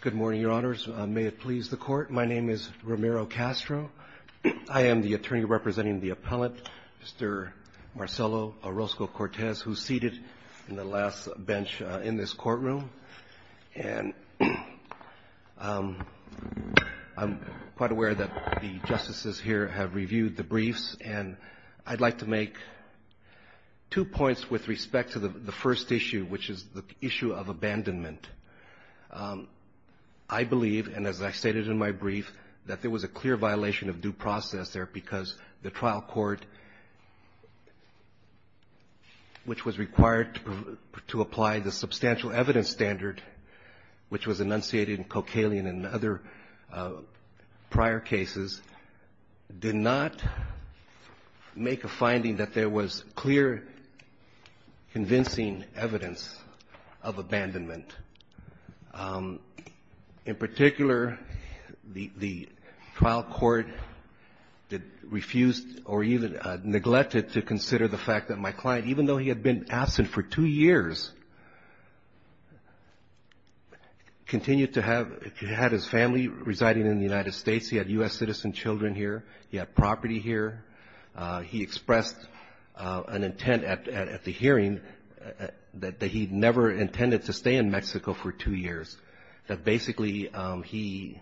Good morning, Your Honors. May it please the Court, my name is Romero Castro. I am the attorney representing the appellant, Mr. Marcelo Orozco-Cortez, who is seated in the last bench in this courtroom. And I'm quite aware that the justices here have reviewed the briefs, and I'd like to make two points with respect to the first issue, which is the issue of I believe, and as I stated in my brief, that there was a clear violation of due process there because the trial court, which was required to apply the substantial evidence standard, which was enunciated in Kokalien and other prior cases, did not make a finding that there was clear, convincing evidence of abandonment. In particular, the trial court refused or even neglected to consider the fact that my client, even though he had been absent for two years, continued to have his family residing in the United States. He had U.S. citizen children here. He had property here. He expressed an intent at the hearing that he never intended to stay in Mexico for two years, that basically he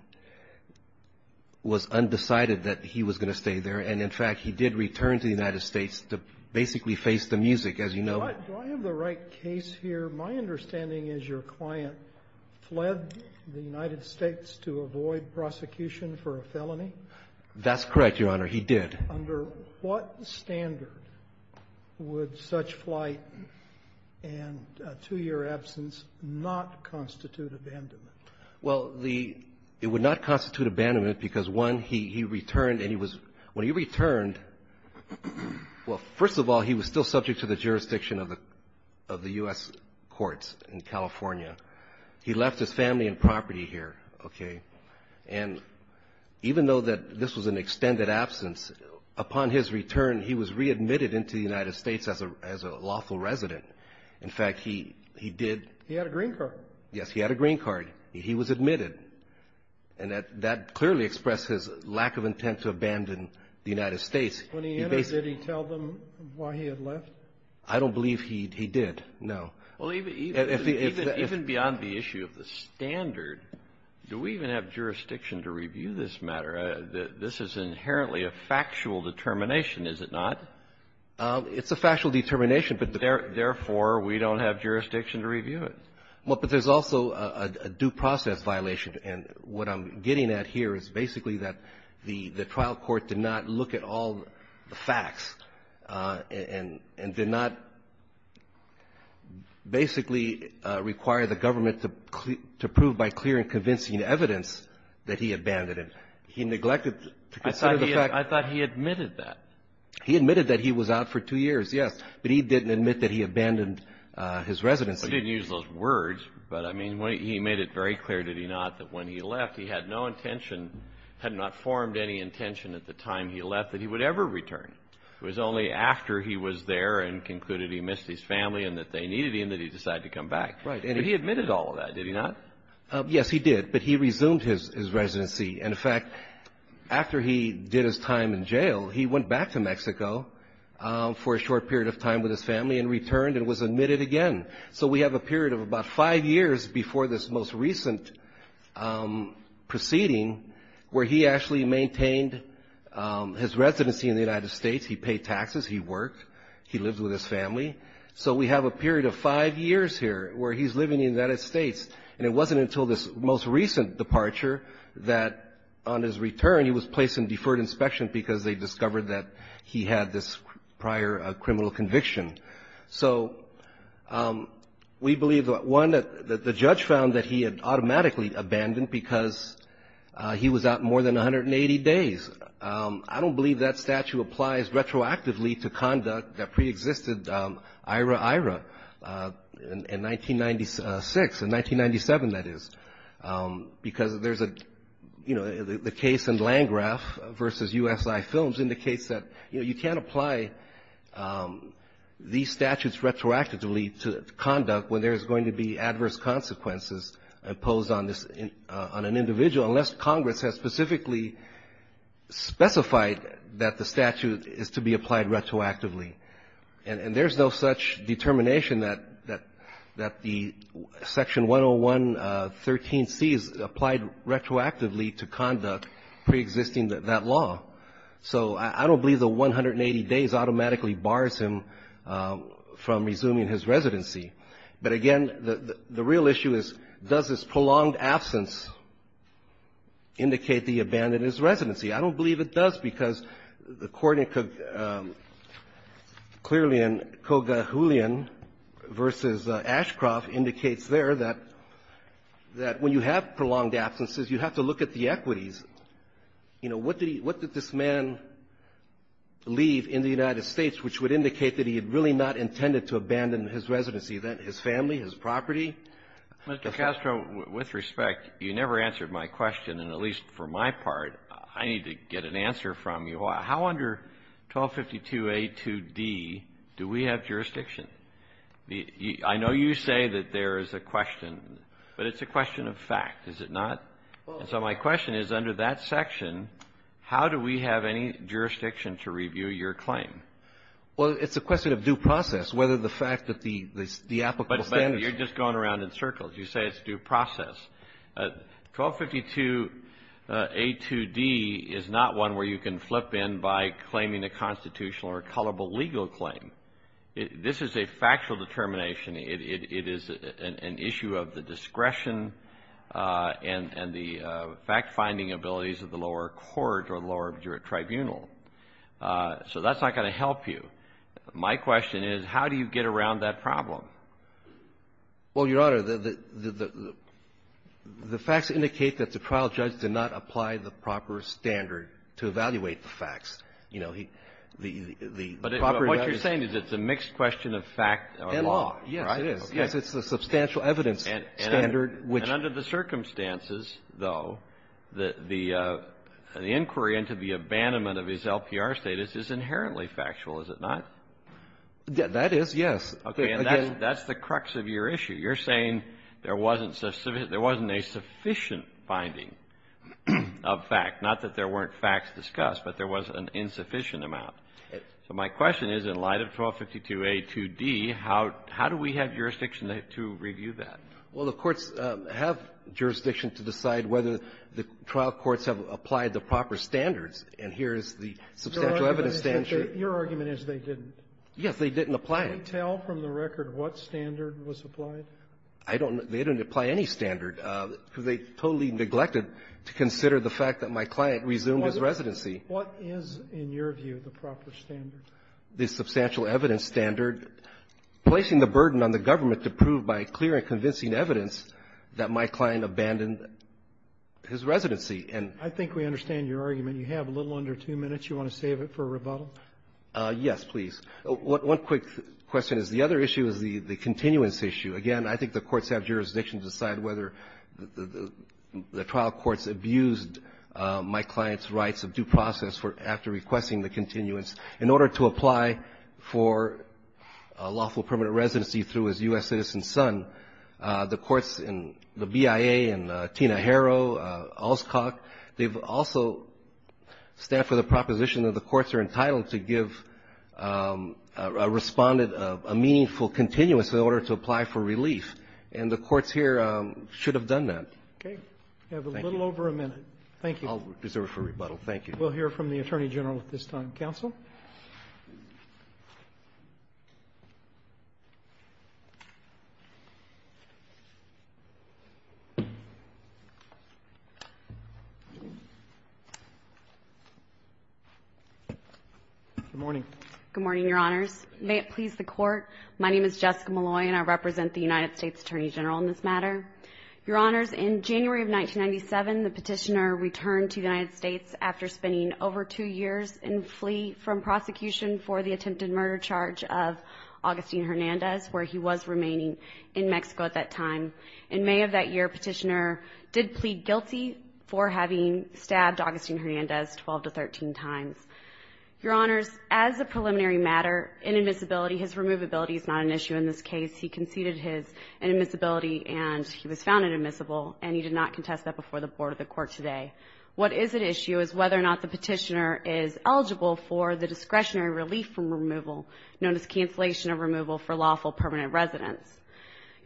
was undecided that he was going to stay there. And in fact, he did return to the United States to basically face the music, as you know. Do I have the right case here? My understanding is your client fled the United States to avoid prosecution for a felony? That's correct, Your Honor. He did. Under what standard would such flight and a two-year absence not constitute abandonment? Well, it would not constitute abandonment because, one, he returned and he was – when he returned, well, first of all, he was still subject to the jurisdiction of the U.S. courts in California. He left his family and property here, okay? And even though that this was an extended absence, upon his return, he was readmitted into the United States as a lawful resident. In fact, he did – He had a green card. Yes, he had a green card. He was admitted. And that clearly expressed his lack of intent to abandon the United States. When he entered, did he tell them why he had left? I don't believe he did, no. Well, even beyond the issue of the standard, do we even have jurisdiction to review this matter? This is inherently a factual determination, is it not? It's a factual determination, but therefore, we don't have jurisdiction to review it. Well, but there's also a due process violation. And what I'm getting at here is basically that the trial court did not look at all the facts. It basically required the government to prove by clear and convincing evidence that he abandoned it. He neglected to consider the fact that – I thought he admitted that. He admitted that he was out for two years, yes. But he didn't admit that he abandoned his residency. He didn't use those words, but, I mean, he made it very clear, did he not, that when he left, he had no intention – had not formed any intention at the time he left that he would ever return. It was only after he was there and concluded he missed his family and that they needed him that he decided to come back. Right. But he admitted all of that, did he not? Yes, he did. But he resumed his residency. And, in fact, after he did his time in jail, he went back to Mexico for a short period of time with his family and returned and was admitted again. So we have a period of about five years before this most recent proceeding where he actually maintained his residency in the United States. He paid taxes. He worked. He lived with his family. So we have a period of five years here where he's living in the United States. And it wasn't until this most recent departure that, on his return, he was placed in deferred inspection because they discovered that he had this prior criminal conviction. So we believe, one, that the judge found that he had automatically abandoned because he was out more than 180 days. I don't believe that statute applies retroactively to conduct, that preexisted IRA-IRA in 1996, in 1997, that is, because there's a, you know, the case in Landgraf versus USI Films indicates that, you know, you can't apply these statutes retroactively to conduct when there's going to be adverse consequences imposed on an individual unless Congress has specifically specified that the statute is to be applied retroactively. And there's no such determination that the Section 101.13c is applied retroactively to conduct preexisting that law. So I don't believe the 180 days automatically bars him from resuming his residency. But, again, the real issue is, does this prolonged absence indicate that he abandoned his residency? I don't believe it does because the court in Kogahulian versus Ashcroft indicates there that when you have prolonged absences, you have to look at the equities. You know, what did he — what did this man leave in the United States which would indicate that he had really abandoned his residency? Was he really not intended to abandon his residency, his family, his property? Mr. Castro, with respect, you never answered my question, and at least for my part, I need to get an answer from you. How under 1252a2d do we have jurisdiction? I know you say that there is a question, but it's a question of fact, is it not? And so my question is, under that section, how do we have any jurisdiction to review your claim? Well, it's a question of due process, whether the fact that the applicable standards — But you're just going around in circles. You say it's due process. 1252a2d is not one where you can flip in by claiming a constitutional or colorable legal claim. This is a factual determination. It is an issue of the discretion and the fact-finding abilities of the lower court or lower tribunal. So that's not going to help you. My question is, how do you get around that problem? Well, Your Honor, the facts indicate that the trial judge did not apply the proper standard to evaluate the facts. You know, the proper evidence — But what you're saying is it's a mixed question of fact and law, right? Yes, it is. Yes, it's a substantial evidence standard which — And the inquiry into the abandonment of his LPR status is inherently factual, is it not? That is, yes. Okay. And that's the crux of your issue. You're saying there wasn't a sufficient finding of fact, not that there weren't facts discussed, but there was an insufficient amount. So my question is, in light of 1252a2d, how do we have jurisdiction to review that? Well, the courts have jurisdiction to decide whether the trial courts have applied the proper standards, and here is the substantial evidence standard. Your argument is they didn't. Yes, they didn't apply it. Can we tell from the record what standard was applied? I don't know. They didn't apply any standard because they totally neglected to consider the fact that my client resumed his residency. What is, in your view, the proper standard? The substantial evidence standard placing the burden on the government to prove by clear and convincing evidence that my client abandoned his residency. I think we understand your argument. You have a little under two minutes. You want to save it for rebuttal? Yes, please. One quick question is the other issue is the continuance issue. Again, I think the courts have jurisdiction to decide whether the trial courts abused my client's rights of due process after requesting the continuance. In order to apply for lawful permanent residency through his U.S. citizen son, the they also stand for the proposition that the courts are entitled to give a respondent a meaningful continuance in order to apply for relief. And the courts here should have done that. Okay. You have a little over a minute. Thank you. I'll reserve it for rebuttal. Thank you. We'll hear from the Attorney General at this time. Counsel? Good morning. Good morning, Your Honors. May it please the Court. My name is Jessica Malloy and I represent the United States Attorney General on this matter. Your Honors, in January of 1997, the petitioner returned to the United States after spending over two years in flee from prosecution for the attempted murder charge of Augustine Hernandez, where he was remaining in Mexico at that time. In May of that year, petitioner did plead guilty for having stabbed Augustine Hernandez 12 to 13 times. Your Honors, as a preliminary matter, inadmissibility, his removability is not an issue in this case. He conceded his inadmissibility and he was found inadmissible and he did not contest that before the Board of the Court today. What is an issue is whether or not the petitioner is eligible for the discretionary relief from removal known as cancellation of removal for lawful permanent residents.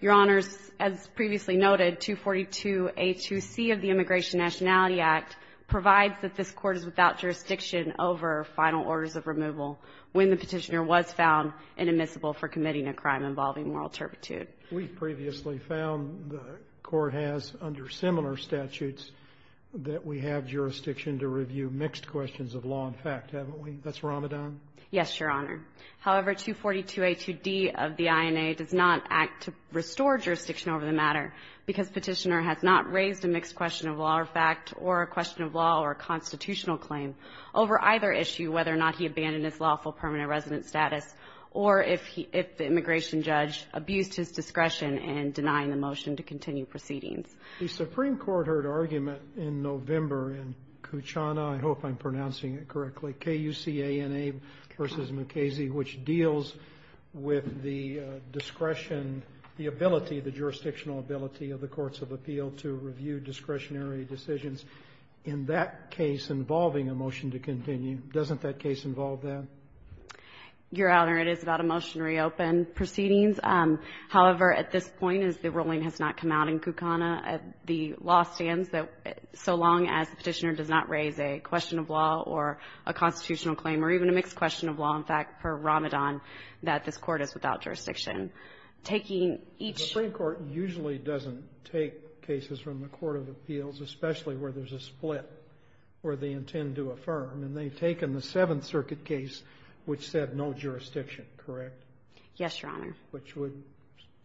Your Honors, as previously noted, 242A2C of the Immigration and Nationality Act provides that this Court is without jurisdiction over final orders of removal when the petitioner was found inadmissible for committing a crime involving moral turpitude. We've previously found the Court has, under similar statutes, that we have jurisdiction to review mixed questions of law and fact, haven't we? That's Ramadan? Yes, Your Honor. However, 242A2D of the INA does not act to restore jurisdiction over the matter because petitioner has not raised a mixed question of law or fact or a question of law or a constitutional claim over either issue, whether or not he abandoned his lawful permanent resident status or if the immigration judge abused his discretion in denying the motion to continue proceedings. The Supreme Court heard argument in November in Kuchana, I hope I'm pronouncing it correctly, K-U-C-A-N-A versus Mukasey, which deals with the discretion, the ability, the jurisdictional ability of the Courts of Appeal to review discretionary decisions in that case involving a motion to continue. Doesn't that case involve that? Your Honor, it is about a motion to reopen proceedings. However, at this point, the ruling has not come out in Kuchana. The law stands that so long as the petitioner does not raise a question of law or a constitutional claim or even a mixed question of law and fact for Ramadan, that this Court is without jurisdiction. Taking each... The Supreme Court usually doesn't take cases from the Court of Appeals, especially where there's a split where they intend to affirm. And they've taken the Seventh Circuit case, which said no jurisdiction, correct? Yes, Your Honor. Which would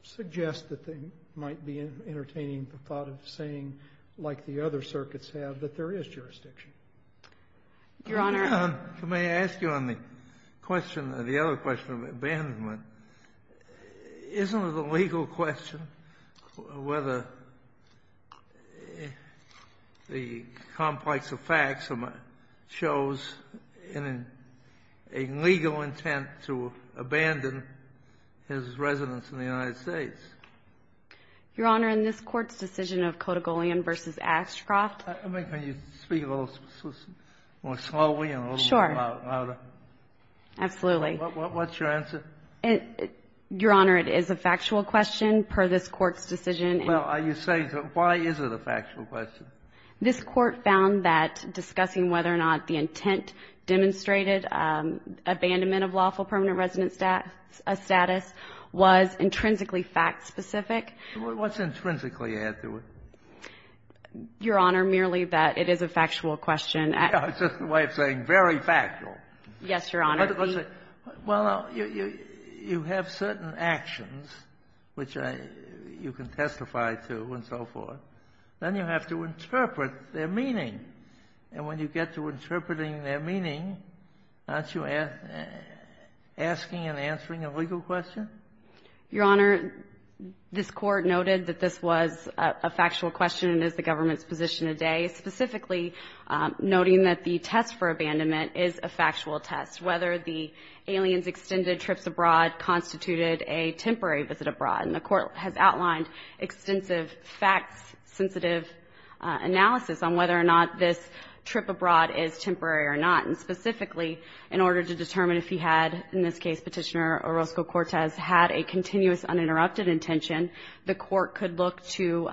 suggest that they might be entertaining the thought of saying, like the other circuits have, that there is jurisdiction. Your Honor... May I ask you on the question, the other question of abandonment, isn't it a legal question whether the complex of facts shows a legal intent to abandon his residence in the United States? Your Honor, in this Court's decision of Kodigolian v. Ashcroft... I mean, can you speak a little more slowly and a little louder? Sure. Absolutely. What's your answer? Your Honor, it is a factual question per this Court's decision. Well, are you saying that why is it a factual question? This Court found that discussing whether or not the intent demonstrated, abandonment of lawful permanent residence status was intrinsically fact-specific. What's intrinsically add to it? Your Honor, merely that it is a factual question. It's just a way of saying very factual. Yes, Your Honor. Well, you have certain actions which you can testify to and so forth. Then you have to interpret their meaning. And when you get to interpreting their meaning, aren't you asking and answering a legal question? Your Honor, this Court noted that this was a factual question and is the government's position today, specifically noting that the test for abandonment is a factual test, whether the aliens' extended trips abroad constituted a temporary visit abroad. And the Court has outlined extensive facts-sensitive analysis on whether or not this trip abroad is temporary or not. And specifically, in order to determine if he had, in this case, Petitioner Orozco-Cortez had a continuous uninterrupted intention, the Court could look to,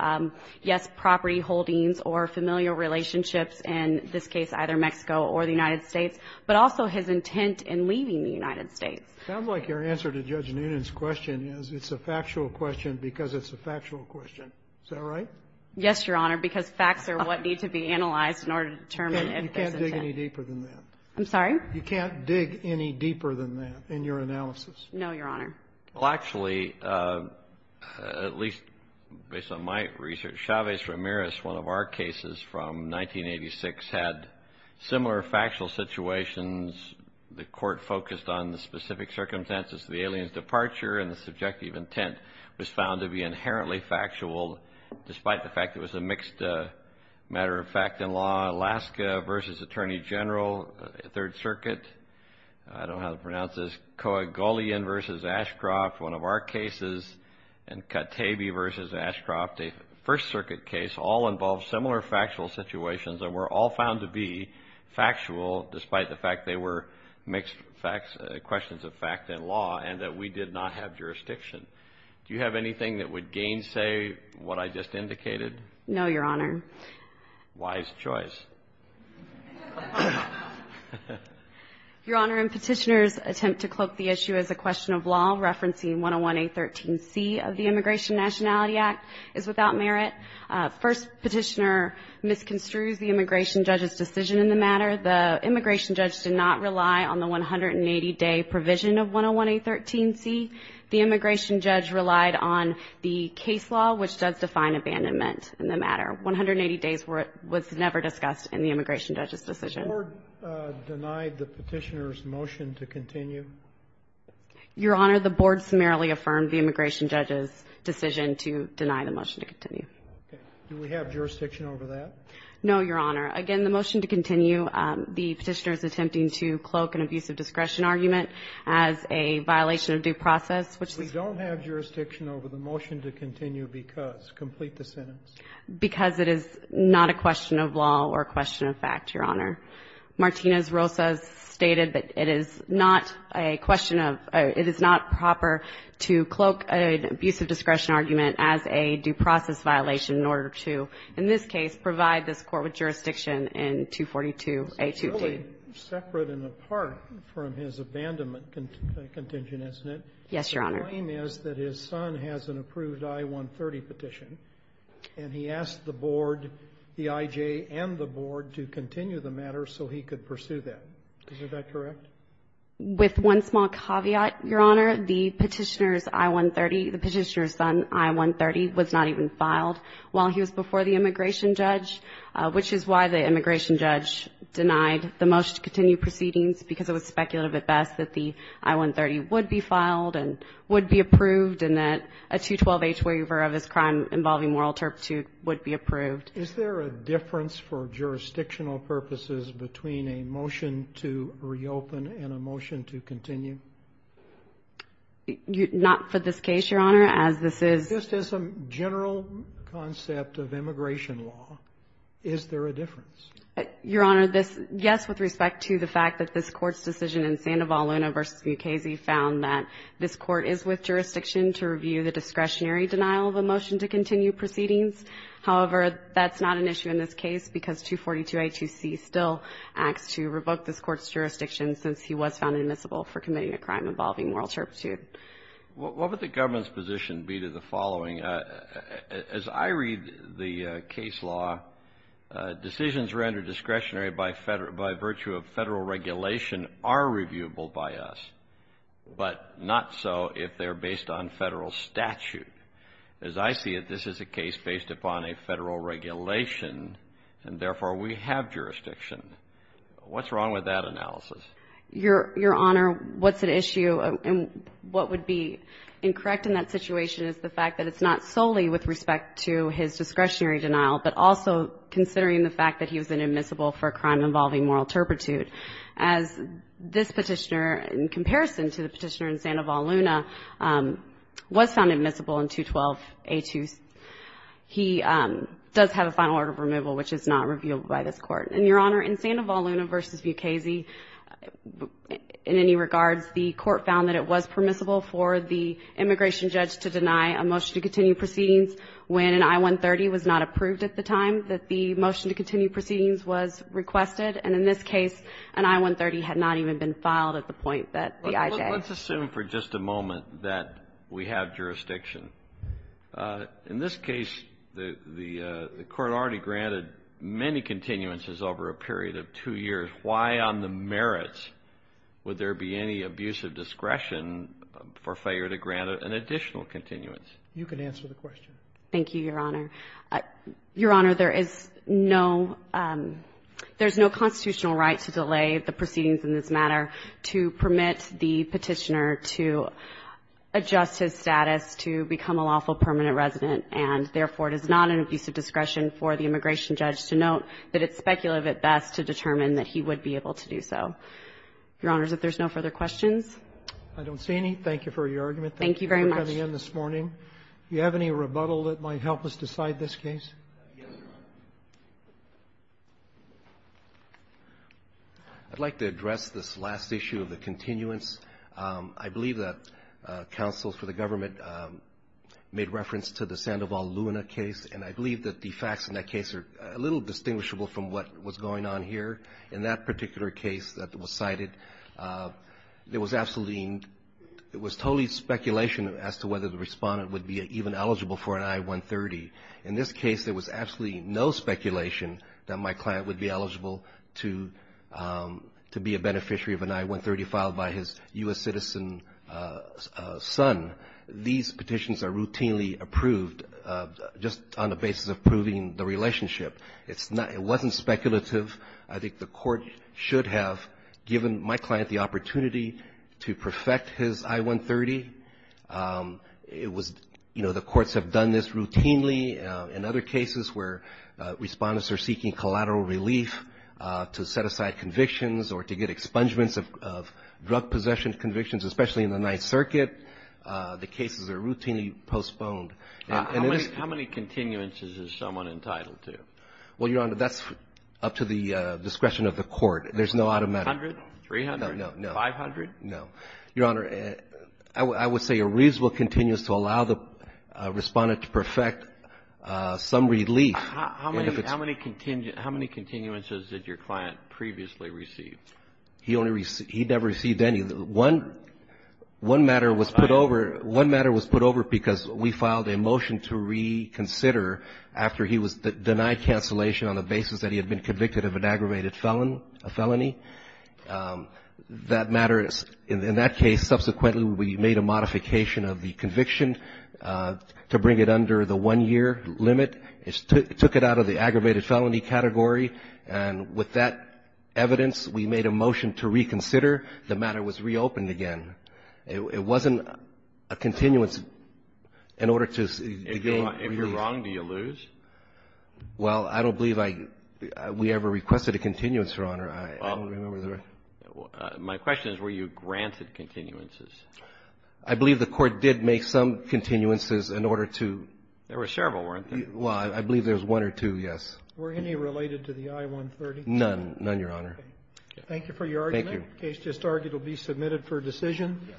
yes, property holdings or familial relationships, in this case, either Mexico or the United States, but also his intent in leaving the United States. It sounds like your answer to Judge Noonan's question is it's a factual question because it's a factual question. Is that right? Yes, Your Honor, because facts are what need to be analyzed in order to determine if there's intent. You can't dig any deeper than that. I'm sorry? You can't dig any deeper than that in your analysis. No, Your Honor. Well, actually, at least based on my research, Chavez-Ramirez, one of our cases from 1986, had similar factual situations. The Court focused on the specific circumstances of the alien's departure, and the subjective intent was found to be inherently factual, despite the fact it was a mixed matter of fact and law. Alaska v. Attorney General, 3rd Circuit, I don't know how to pronounce this, Coagulian v. Ashcroft, one of our cases, and Katebi v. Ashcroft, a 1st Circuit case, all involved similar factual situations and were all found to be factual, despite the fact they were mixed questions of fact and law, and that we did not have jurisdiction. Do you have anything that would gainsay what I just indicated? No, Your Honor. Wise choice. Your Honor, in Petitioner's attempt to cloak the issue as a question of law, referencing 101A13C of the Immigration Nationality Act is without merit. First, Petitioner misconstrues the immigration judge's decision in the matter. The immigration judge did not rely on the 180-day provision of 101A13C. The immigration judge relied on the case law, which does define abandonment in the matter. 180 days was never discussed in the immigration judge's decision. The Board denied the Petitioner's motion to continue? Your Honor, the Board summarily affirmed the immigration judge's decision to deny the motion to continue. Do we have jurisdiction over that? No, Your Honor. Again, the motion to continue, the Petitioner's attempting to cloak an abuse of discretion argument as a violation of due process, which we don't have jurisdiction over. The motion to continue because. Complete the sentence. Because it is not a question of law or a question of fact, Your Honor. Martinez-Rosas stated that it is not a question of, it is not proper to cloak an abuse of discretion argument as a due process violation in order to, in this case, provide this court with jurisdiction in 242A2D. It's really separate and apart from his abandonment contingent, isn't it? Yes, Your Honor. The claim is that his son has an approved I-130 petition, and he asked the Board, the IJ and the Board, to continue the matter so he could pursue that. Is that correct? With one small caveat, Your Honor. The Petitioner's I-130, the Petitioner's son, I-130, was not even filed while he was before the immigration judge, which is why the immigration judge denied the motion to continue proceedings because it was speculative at best that the I-130 would be filed and would be approved and that a 212H waiver of his crime involving moral turpitude would be approved. Is there a difference for jurisdictional purposes between a motion to reopen and a motion to continue? Not for this case, Your Honor, as this is Just as a general concept of immigration law, is there a difference? Your Honor, yes, with respect to the fact that this Court's decision in Sandoval-Luna v. Mukasey found that this Court is with jurisdiction to review the discretionary denial of a motion to continue proceedings. However, that's not an issue in this case because 242A2C still acts to revoke this Court's jurisdiction since he was found admissible for committing a crime involving moral turpitude. What would the government's position be to the following? As I read the case law, decisions rendered discretionary by virtue of federal regulation are reviewable by us, but not so if they're based on federal statute. As I see it, this is a case based upon a federal regulation, and therefore, we have jurisdiction. What's wrong with that analysis? Your Honor, what's at issue and what would be incorrect in that situation is the fact that it's not solely with respect to his discretionary denial, but also considering the fact that he was admissible for a crime involving moral turpitude. As this petitioner, in comparison to the petitioner in Sandoval-Luna, was found admissible in 212A2C. He does have a final order of removal, which is not reviewed by this Court. And, Your Honor, in Sandoval-Luna v. Bukasy, in any regards, the Court found that it was permissible for the immigration judge to deny a motion to continue proceedings when an I-130 was not approved at the time that the motion to continue proceedings was requested. And in this case, an I-130 had not even been filed at the point that the IJ was approved. Let's assume for just a moment that we have jurisdiction. In this case, the Court already granted many continuances over a period of two years. Why on the merits would there be any abusive discretion for failure to grant an additional continuance? You can answer the question. Thank you, Your Honor. Your Honor, there is no constitutional right to delay the proceedings in this matter to permit the Petitioner to adjust his status to become a lawful permanent resident. And, therefore, it is not an abusive discretion for the immigration judge to note that it's speculative at best to determine that he would be able to do so. Your Honors, if there's no further questions. I don't see any. Thank you for your argument. Thank you very much. Thank you for coming in this morning. Do you have any rebuttal that might help us decide this case? I'd like to address this last issue of the continuance. I believe that counsels for the government made reference to the Sandoval-Luna case, and I believe that the facts in that case are a little distinguishable from what was going on here. In that particular case that was cited, there was absolutely no — it was totally speculation as to whether the Respondent would be even eligible for an I-130. In this case, there was absolutely no speculation that my client would be eligible to be a beneficiary of an I-130 filed by his U.S. citizen son. These petitions are routinely approved just on the basis of proving the relationship. It's not — it wasn't speculative. I think the Court should have given my client the opportunity to perfect his I-130. It was — you know, the courts have done this routinely in other cases where Respondents are seeking collateral relief to set aside convictions or to get expungements of drug possession convictions, especially in the Ninth Circuit. The cases are routinely postponed. How many continuances is someone entitled to? Well, Your Honor, that's up to the discretion of the Court. There's no automatic — A hundred? Three hundred? No, no. Five hundred? No. Your Honor, I would say a reasonable continuous to allow the Respondent to perfect some relief. How many — how many continuances did your client previously receive? He only — he never received any. One — one matter was put over — one matter was put over because we filed a motion to reconsider after he was denied cancellation on the basis that he had been convicted of an aggravated felon — a felony. That matter is — in that case, subsequently, we made a modification of the conviction to bring it under the one-year limit. It took it out of the aggravated felony category, and with that evidence, we made a motion to reconsider. The matter was reopened again. It wasn't a continuance in order to gain relief. If you're wrong, do you lose? Your Honor, I — I don't remember the — My question is, were you granted continuances? I believe the Court did make some continuances in order to — There were several, weren't there? Well, I believe there was one or two, yes. Were any related to the I-130? None. None, Your Honor. Thank you for your argument. Thank you. The case just argued will be submitted for decision.